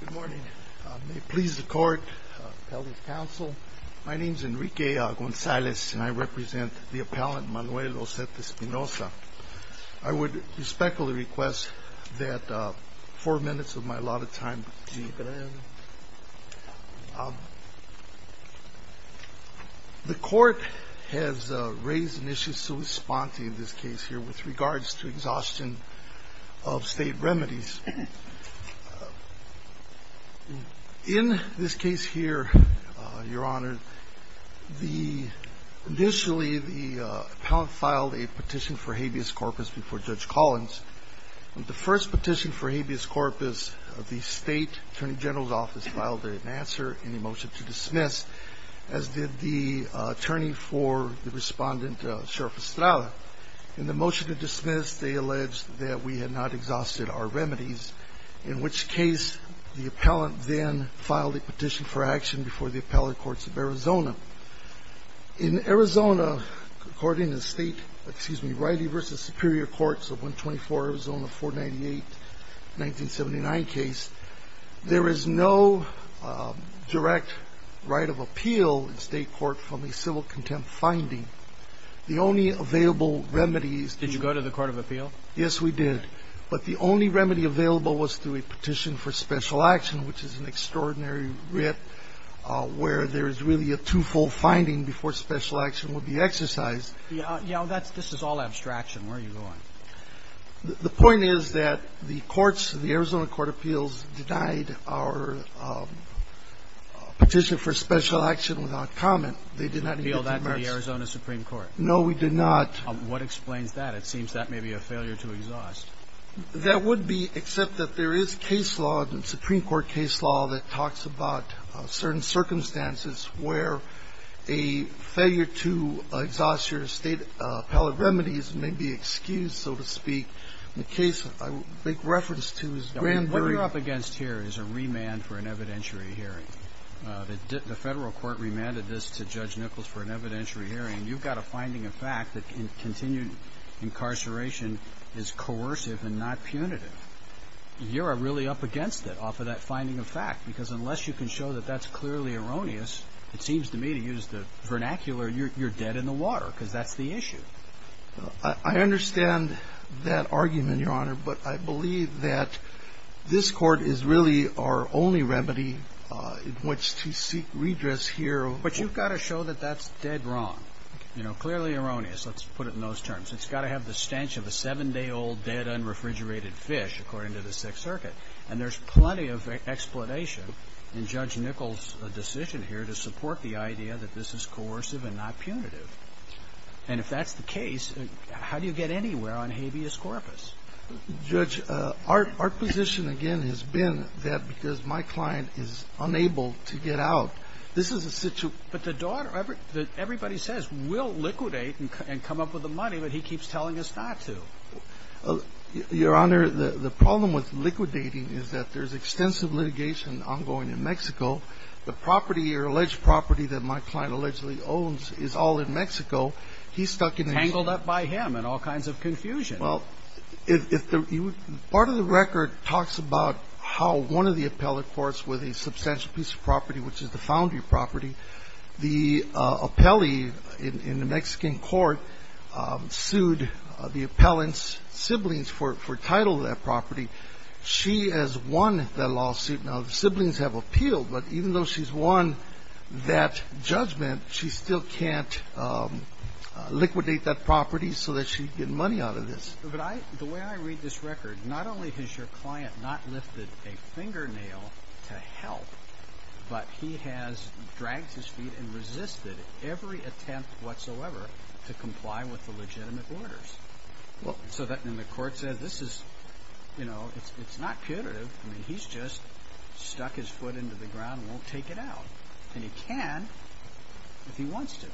Good morning. May it please the court, appellate counsel, my name is Enrique Gonzalez, and I represent the appellant Manuel Osete Espinoza. I would respectfully request that four minutes of my allotted time be given. The court has raised an issue so responding to this case here with regards to exhaustion of State remedies. In this case here, Your Honor, the initially the appellant filed a petition for habeas corpus before Judge Collins. The first petition for habeas corpus of the State Attorney General's office filed an answer and a motion to dismiss, as did the attorney for the respondent, Sheriff Estrada. In the motion to dismiss, they alleged that we had not exhausted our remedies, in which case the appellant then filed a petition for action before the appellate courts of Arizona. In Arizona, according to the state, excuse me, Riley v. Superior Courts of 124 Arizona 498-1979 case, there is no direct right of appeal in state court from a civil contempt finding. The only available remedies... Did you go to the court of appeal? Yes, we did. But the only remedy available was through a petition for special action, which is an extraordinary writ where there is really a two-fold finding before special action would be exercised. Yeah. Yeah. This is all abstraction. Where are you going? The point is that the courts, the Arizona Court of Appeals, denied our petition for special action without comment. They did not... Appeal that to the Arizona Supreme Court? No, we did not. What explains that? That seems that may be a failure to exhaust. That would be, except that there is case law, the Supreme Court case law, that talks about certain circumstances where a failure to exhaust your state appellate remedies may be excused, so to speak. In the case I make reference to is... What you're up against here is a remand for an evidentiary hearing. The Federal Court remanded this to Judge Nichols for an evidentiary hearing. You've got a finding of fact that continued incarceration is coercive and not punitive. You're really up against it off of that finding of fact, because unless you can show that that's clearly erroneous, it seems to me to use the vernacular, you're dead in the water, because that's the issue. I understand that argument, Your Honor, but I believe that this Court is really our only remedy in which to seek redress here. But you've got to show that that's dead wrong, you know, clearly erroneous. Let's put it in those terms. It's got to have the stench of a 7-day-old dead, unrefrigerated fish, according to the Sixth Circuit. And there's plenty of explanation in Judge Nichols' decision here to support the idea that this is coercive and not punitive. And if that's the case, how do you get anywhere on habeas corpus? Judge, our position, again, has been that because my client is unable to get out, this is a situa But the daughter, everybody says, will liquidate and come up with the money, but he keeps telling us not to. Your Honor, the problem with liquidating is that there's extensive litigation ongoing in Mexico. The property or alleged property that my client allegedly owns is all in Mexico. He's stuck in a Tangled up by him in all kinds of confusion. Well, part of the record talks about how one of the appellate courts with a substantial piece of property, which is the foundry property, the appellee in the Mexican court sued the appellant's siblings for title of that property. She has won that lawsuit. Now, the siblings have appealed, but even though she's won that judgment, she still can't liquidate that property so that she can get money out of this. But the way I read this record, not only has your client not lifted a fingernail to help, but he has dragged his feet and resisted every attempt whatsoever to comply with the legitimate orders. So then the court says, this is, you know, it's not punitive. I mean, he's just stuck his foot into the ground and won't take it out. And he can if he wants to.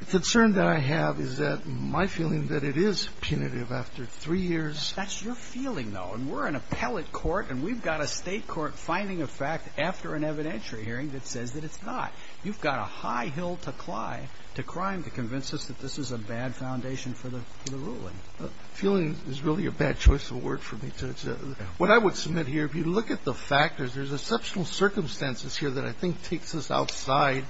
The concern that I have is that my feeling that it is punitive after three years. That's your feeling, though. And we're an appellate court, and we've got a state court finding a fact after an evidentiary hearing that says that it's not. You've got a high hill to climb to crime to convince us that this is a bad foundation for the ruling. Feeling is really a bad choice of word for me. What I would submit here, if you look at the factors, there's exceptional circumstances here that I think takes us outside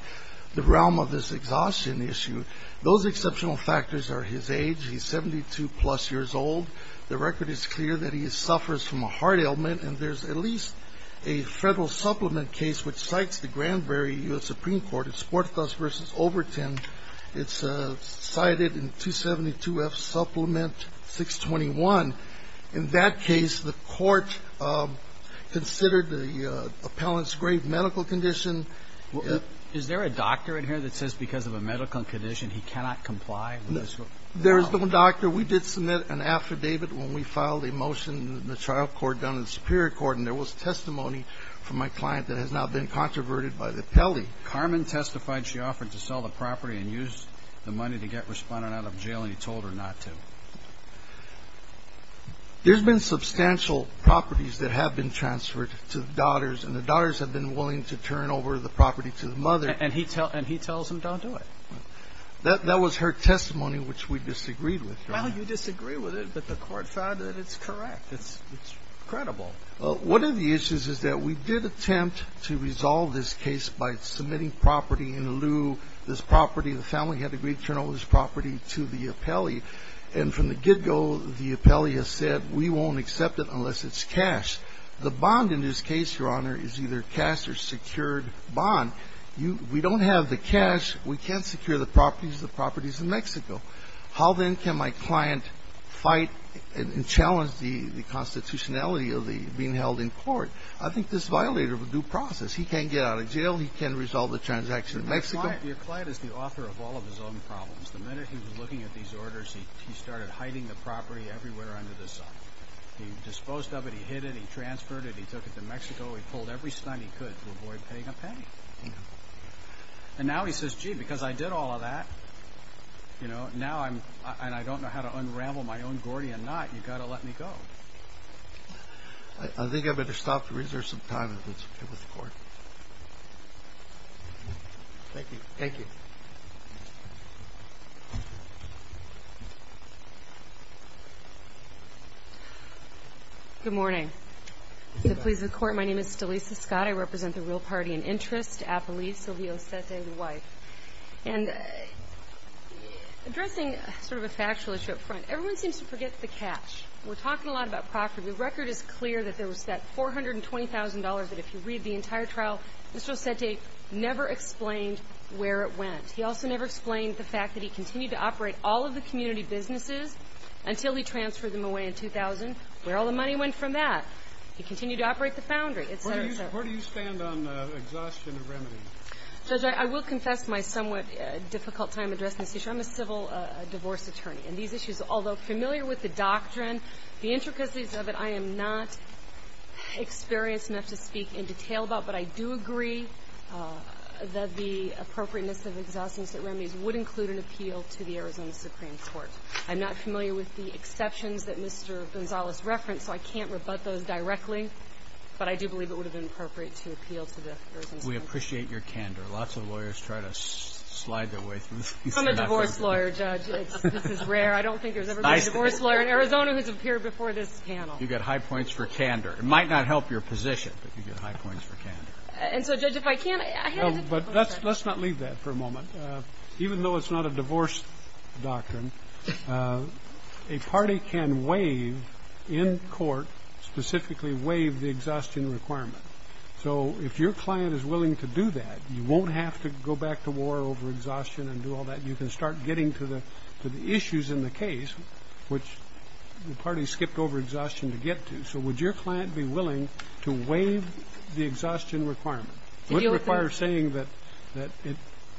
the realm of this exhaustion issue. Those exceptional factors are his age. He's 72 plus years old. The record is clear that he suffers from a heart ailment. And there's at least a federal supplement case which cites the Granbury U.S. Supreme Court. It's Sportacus v. Overton. It's cited in 272F Supplement 621. In that case, the court considered the appellant's grave medical condition. Is there a doctor in here that says because of a medical condition he cannot comply? There is no doctor. We did submit an affidavit when we filed a motion in the trial court down in the Superior Court, and there was testimony from my client that has now been controverted by the appellee. Carmen testified she offered to sell the property and used the money to get Respondent out of jail, and he told her not to. There's been substantial properties that have been transferred to the daughters, and the daughters have been willing to turn over the property to the mother. And he tells them don't do it. That was her testimony, which we disagreed with. Well, you disagree with it, but the court found that it's correct. It's credible. One of the issues is that we did attempt to resolve this case by submitting property in lieu. This property, the family had agreed to turn over this property to the appellee. And from the get-go, the appellee has said we won't accept it unless it's cash. The bond in this case, Your Honor, is either cash or secured bond. We don't have the cash. How then can my client fight and challenge the constitutionality of being held in court? I think this violator of a due process. He can't get out of jail. He can't resolve the transaction in Mexico. Your client is the author of all of his own problems. The minute he was looking at these orders, he started hiding the property everywhere under the sun. He disposed of it. He hid it. He transferred it. He took it to Mexico. He pulled every stunt he could to avoid paying a penny. And now he says, gee, because I did all of that, now I don't know how to unravel my own Gordian knot. You've got to let me go. I think I'd better stop to reserve some time with the court. Thank you. Thank you. Good morning. I'm pleased to report my name is Delisa Scott. I represent the Real Party in Interest, Apolice, Sylvia Osete, the wife. And addressing sort of a factual issue up front, everyone seems to forget the catch. We're talking a lot about property. The record is clear that there was that $420,000 that if you read the entire trial, Mr. Osete never explained where it went. He also never explained the fact that he continued to operate all of the community businesses until he transferred them away in 2000. Where all the money went from that? Where do you stand on exhaustion of remedies? Judge, I will confess my somewhat difficult time addressing this issue. I'm a civil divorce attorney. And these issues, although familiar with the doctrine, the intricacies of it, I am not experienced enough to speak in detail about. But I do agree that the appropriateness of exhaustion of remedies would include an appeal to the Arizona Supreme Court. I'm not familiar with the exceptions that Mr. Gonzalez referenced, so I can't rebut those directly. But I do believe it would have been appropriate to appeal to the Arizona Supreme Court. We appreciate your candor. Lots of lawyers try to slide their way through this. I'm a divorce lawyer, Judge. This is rare. I don't think there's ever been a divorce lawyer in Arizona who's appeared before this panel. You get high points for candor. It might not help your position, but you get high points for candor. And so, Judge, if I can, I had a different point of view. Let's not leave that for a moment. Even though it's not a divorce doctrine, a party can waive, in court specifically, waive the exhaustion requirement. So if your client is willing to do that, you won't have to go back to war over exhaustion and do all that. You can start getting to the issues in the case, which the party skipped over exhaustion to get to. So would your client be willing to waive the exhaustion requirement? It wouldn't require saying that it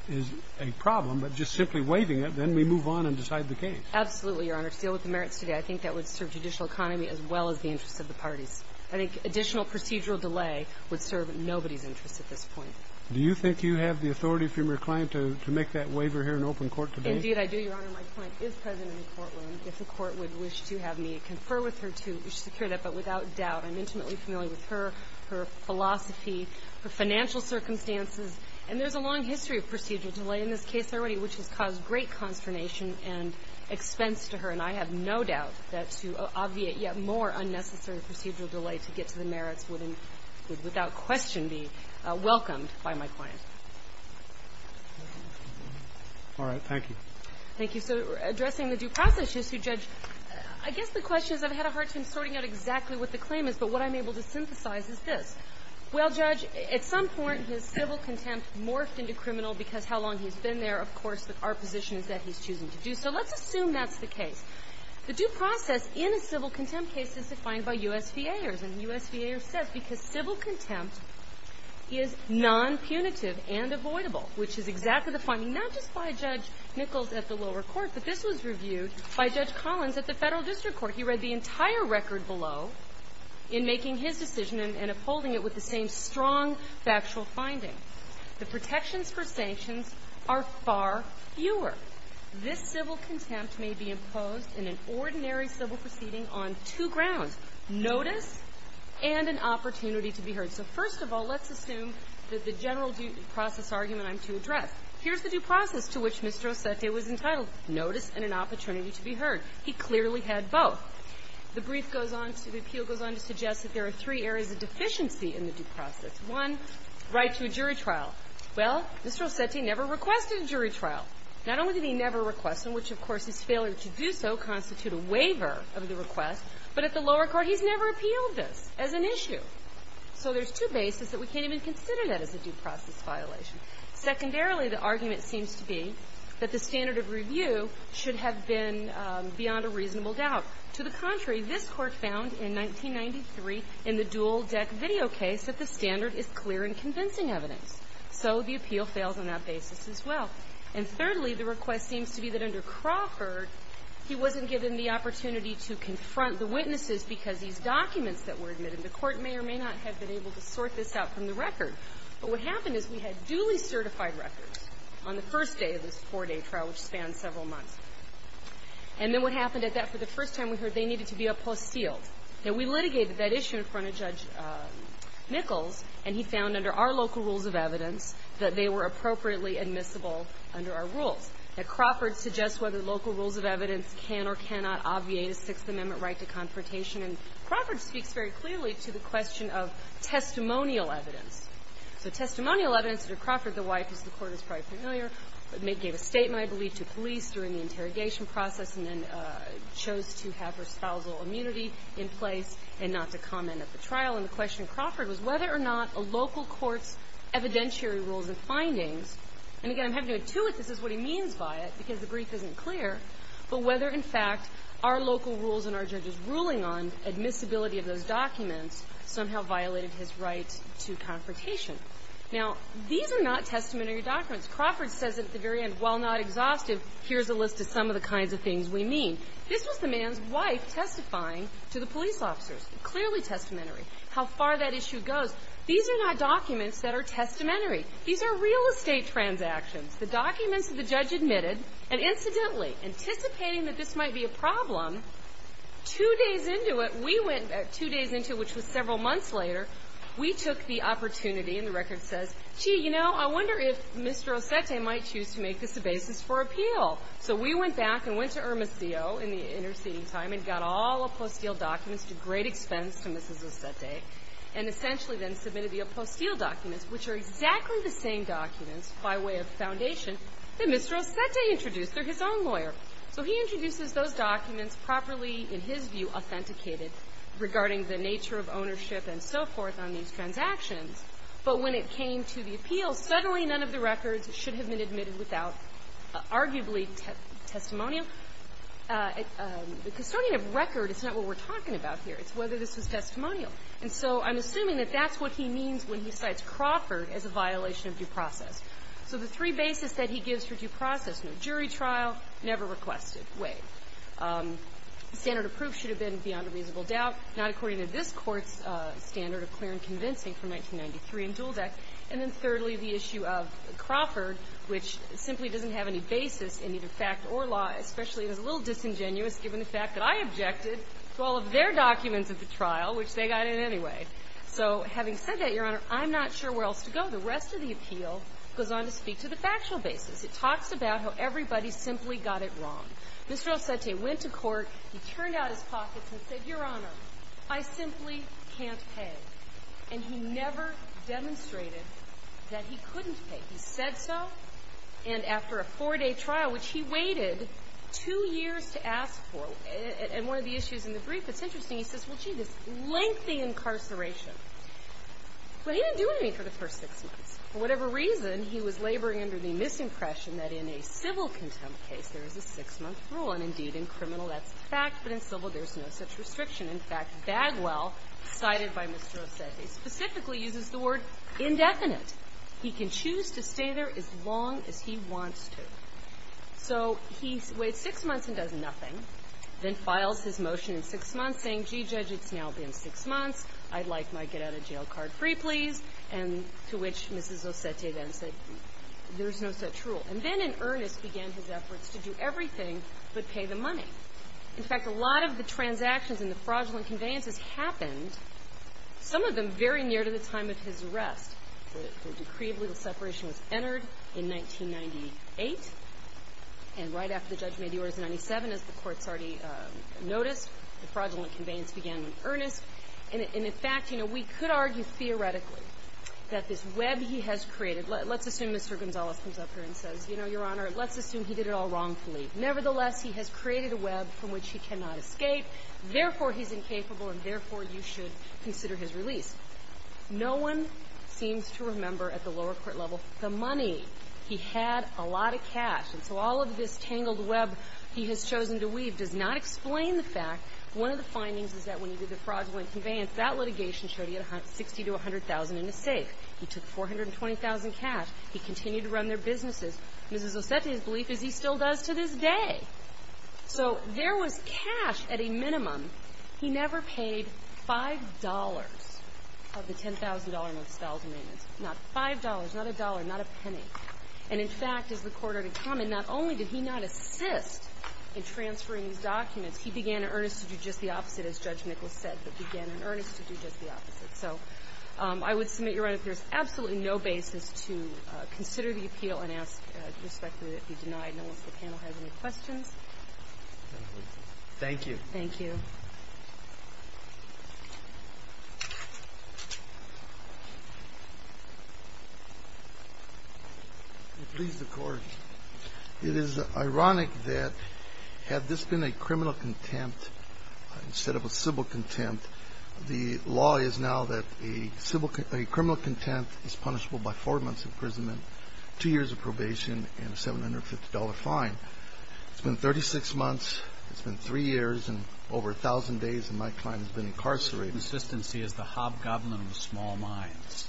is a problem, but just simply waiving it, then we move on and decide the case. Absolutely, Your Honor. To deal with the merits today, I think that would serve judicial economy as well as the interests of the parties. I think additional procedural delay would serve nobody's interests at this point. Do you think you have the authority from your client to make that waiver here in open court today? Indeed, I do, Your Honor. My client is present in the courtroom. If the court would wish to have me confer with her to secure that, but without doubt, I'm intimately familiar with her, her philosophy, her financial circumstances, and there's a long history of procedural delay in this case already, which has caused great consternation and expense to her, and I have no doubt that to obviate yet more unnecessary procedural delay to get to the merits would, without question, be welcomed by my client. All right. Thank you. Thank you. So addressing the due process issue, Judge, I guess the question is I've had a hard time sorting out exactly what the claim is, but what I'm able to synthesize is this. Well, Judge, at some point, his civil contempt morphed into criminal because how long he's been there. Of course, our position is that he's choosing to do so. Let's assume that's the case. The due process in a civil contempt case is defined by U.S. VAers, and the U.S. VAer says because civil contempt is nonpunitive and avoidable, which is exactly the finding not just by Judge Nichols at the lower court, but this was reviewed by Judge Collins at the Federal District Court. He read the entire record below in making his decision and upholding it with the same strong factual finding. The protections for sanctions are far fewer. This civil contempt may be imposed in an ordinary civil proceeding on two grounds, notice and an opportunity to be heard. So first of all, let's assume that the general due process argument I'm to address. Here's the due process to which Mr. Osete was entitled, notice and an opportunity to be heard. He clearly had both. The brief goes on to the appeal goes on to suggest that there are three areas of deficiency in the due process. One, right to a jury trial. Well, Mr. Osete never requested a jury trial. Not only did he never request one, which, of course, his failure to do so constitute a waiver of the request, but at the lower court he's never appealed this as an issue. So there's two bases that we can't even consider that as a due process violation. Secondarily, the argument seems to be that the standard of review should have been beyond a reasonable doubt. To the contrary, this Court found in 1993 in the Dual Deck Video case that the standard is clear and convincing evidence. So the appeal fails on that basis as well. And thirdly, the request seems to be that under Crawford, he wasn't given the opportunity to confront the witnesses because these documents that were admitted. The Court may or may not have been able to sort this out from the record. But what happened is we had duly certified records on the first day of this four-day trial, which spanned several months. And then what happened at that, for the first time we heard they needed to be uphost sealed. Now, we litigated that issue in front of Judge Nichols, and he found under our local rules of evidence that they were appropriately admissible under our rules. Now, Crawford suggests whether local rules of evidence can or cannot obviate a Sixth Amendment right to confrontation, and Crawford speaks very clearly to the question of testimonial evidence. So testimonial evidence under Crawford, the wife of the Court is probably familiar, gave a statement, I believe, to police during the interrogation process and then chose to have her spousal immunity in place and not to comment at the trial. And the question of Crawford was whether or not a local court's evidentiary rules and findings, and again, I'm having to intuit this is what he means by it because the brief isn't clear, but whether, in fact, our local rules and our judges' ruling on admissibility of those documents somehow violated his right to confrontation. Now, these are not testamentary documents. Crawford says at the very end, while not exhaustive, here's a list of some of the kinds of things we mean. This was the man's wife testifying to the police officers. Clearly testamentary. How far that issue goes. These are not documents that are testamentary. These are real estate transactions. The documents that the judge admitted, and incidentally, anticipating that this might be a problem, two days into it, we went, two days into it, which was several months later, we took the opportunity, and the record says, gee, you know, I wonder if Mr. Ossette might choose to make this a basis for appeal. So we went back and went to Hermosillo in the interceding time and got all of Ossette's documents at great expense to Mrs. Ossette, and essentially then submitted the Ossette documents, which are exactly the same documents by way of foundation that Mr. Ossette introduced. They're his own lawyer. So he introduces those documents properly, in his view, authenticated regarding the nature of ownership and so forth on these transactions, but when it came to the appeal, suddenly none of the records should have been admitted without arguably testimonial. Because starting a record is not what we're talking about here. It's whether this was testimonial. And so I'm assuming that that's what he means when he cites Crawford as a violation of due process. So the three basis that he gives for due process, no jury trial, never requested, wait. The standard of proof should have been beyond a reasonable doubt, not according to this Court's standard of clear and convincing from 1993 in Duldeck. And then thirdly, the issue of Crawford, which simply doesn't have any basis in either fact or law, especially if it's a little disingenuous given the fact that I objected to all of their documents at the trial, which they got in anyway. So having said that, Your Honor, I'm not sure where else to go. The rest of the appeal goes on to speak to the factual basis. It talks about how everybody simply got it wrong. Mr. El Cente went to court. He turned out his pockets and said, Your Honor, I simply can't pay. And he never demonstrated that he couldn't pay. He said so. And after a four-day trial, which he waited two years to ask for, and one of the issues in the brief that's interesting, he says, well, gee, this lengthy incarceration. But he didn't do anything for the first six months. For whatever reason, he was laboring under the misimpression that in a civil contempt case, there is a six-month rule. And indeed, in criminal, that's a fact, but in civil, there's no such restriction. In fact, Bagwell, cited by Mr. El Cente, specifically uses the word indefinite. He can choose to stay there as long as he wants to. So he waits six months and does nothing, then files his motion in six months saying, well, gee, Judge, it's now been six months. I'd like my get-out-of-jail-card free, please. And to which Mrs. El Cente then said, there's no such rule. And then in earnest began his efforts to do everything but pay the money. In fact, a lot of the transactions and the fraudulent conveyances happened, some of them very near to the time of his arrest. The decree of legal separation was entered in 1998. And right after the judge made the orders in 1997, as the courts already noticed, the fraudulent conveyance began in earnest. And in fact, you know, we could argue theoretically that this web he has created – let's assume Mr. Gonzalez comes up here and says, you know, Your Honor, let's assume he did it all wrongfully. Nevertheless, he has created a web from which he cannot escape. Therefore, he's incapable, and therefore, you should consider his release. No one seems to remember at the lower court level the money. He had a lot of cash. And so all of this tangled web he has chosen to weave does not explain the fact – one of the findings is that when he did the fraudulent conveyance, that litigation showed he had $60,000 to $100,000 in his safe. He took $420,000 cash. He continued to run their businesses. Mrs. El Cente's belief is he still does to this day. So there was cash at a minimum. He never paid $5 of the $10,000 in expelled amendments. Not $5, not a dollar, not a penny. And, in fact, as the court already commented, not only did he not assist in transferring these documents, he began in earnest to do just the opposite, as Judge Nichols said, but began in earnest to do just the opposite. So I would submit, Your Honor, that there's absolutely no basis to consider the appeal and ask respectfully that it be denied. And I don't know if the panel has any questions. Thank you. Thank you. Please, the Court. It is ironic that had this been a criminal contempt instead of a civil contempt, the law is now that a criminal contempt is punishable by four months' imprisonment, two years of probation, and a $750 fine. It's been 36 months. It's been three years and over 1,000 days, and my client has been incarcerated. Consistency is the hobgoblin of small minds.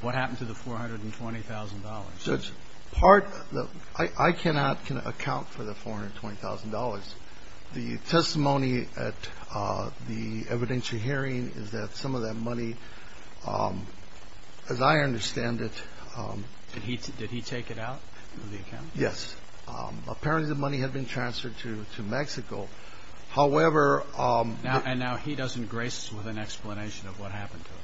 What happened to the $420,000? Part of the ---- I cannot account for the $420,000. The testimony at the evidentiary hearing is that some of that money, as I understand it ---- Did he take it out of the account? Yes. Apparently the money had been transferred to Mexico. However ---- And now he doesn't grace us with an explanation of what happened to it.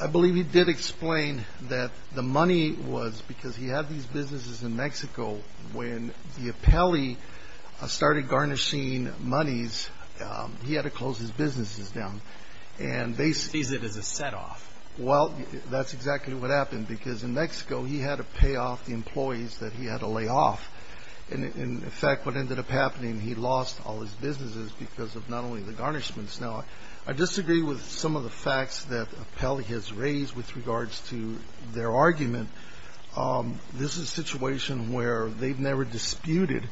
I believe he did explain that the money was because he had these businesses in Mexico. When the appellee started garnishing monies, he had to close his businesses down. And they ---- He sees it as a setoff. Well, that's exactly what happened, because in Mexico, he had to pay off the employees that he had to lay off. And in fact, what ended up happening, he lost all his businesses because of not only the garnishments. Now, I disagree with some of the facts that the appellee has raised with regards to their argument. This is a situation where they've never disputed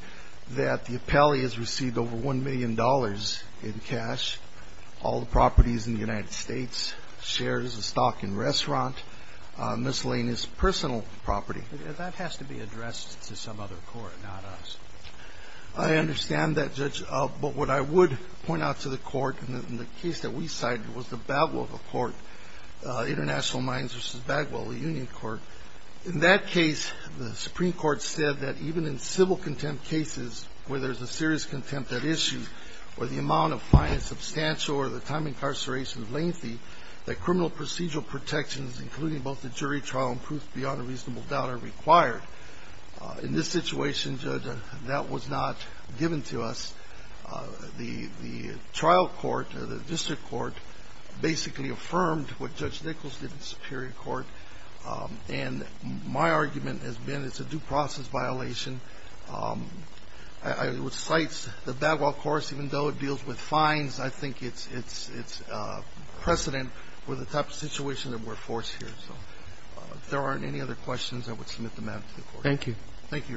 that the appellee has received over $1 million in cash, all the properties in the United States, shares, a stock and restaurant, miscellaneous personal property. That has to be addressed to some other court, not us. I understand that, Judge. But what I would point out to the Court in the case that we cited was the Bagwell Court, International Mines v. Bagwell, the Union Court. In that case, the Supreme Court said that even in civil contempt cases where there is a serious contempt at issue or the amount of fine is substantial or the time incarceration is lengthy, that criminal procedural protections, including both the jury trial and proof beyond a reasonable doubt, are required. In this situation, Judge, that was not given to us. The trial court, the district court, basically affirmed what Judge Nichols did in the Superior Court. And my argument has been it's a due process violation. It cites the Bagwell Court, even though it deals with fines, I think it's precedent with the type of situation that we're forced here. So if there aren't any other questions, I would submit them to the Court. Thank you. Thank you, Your Honor.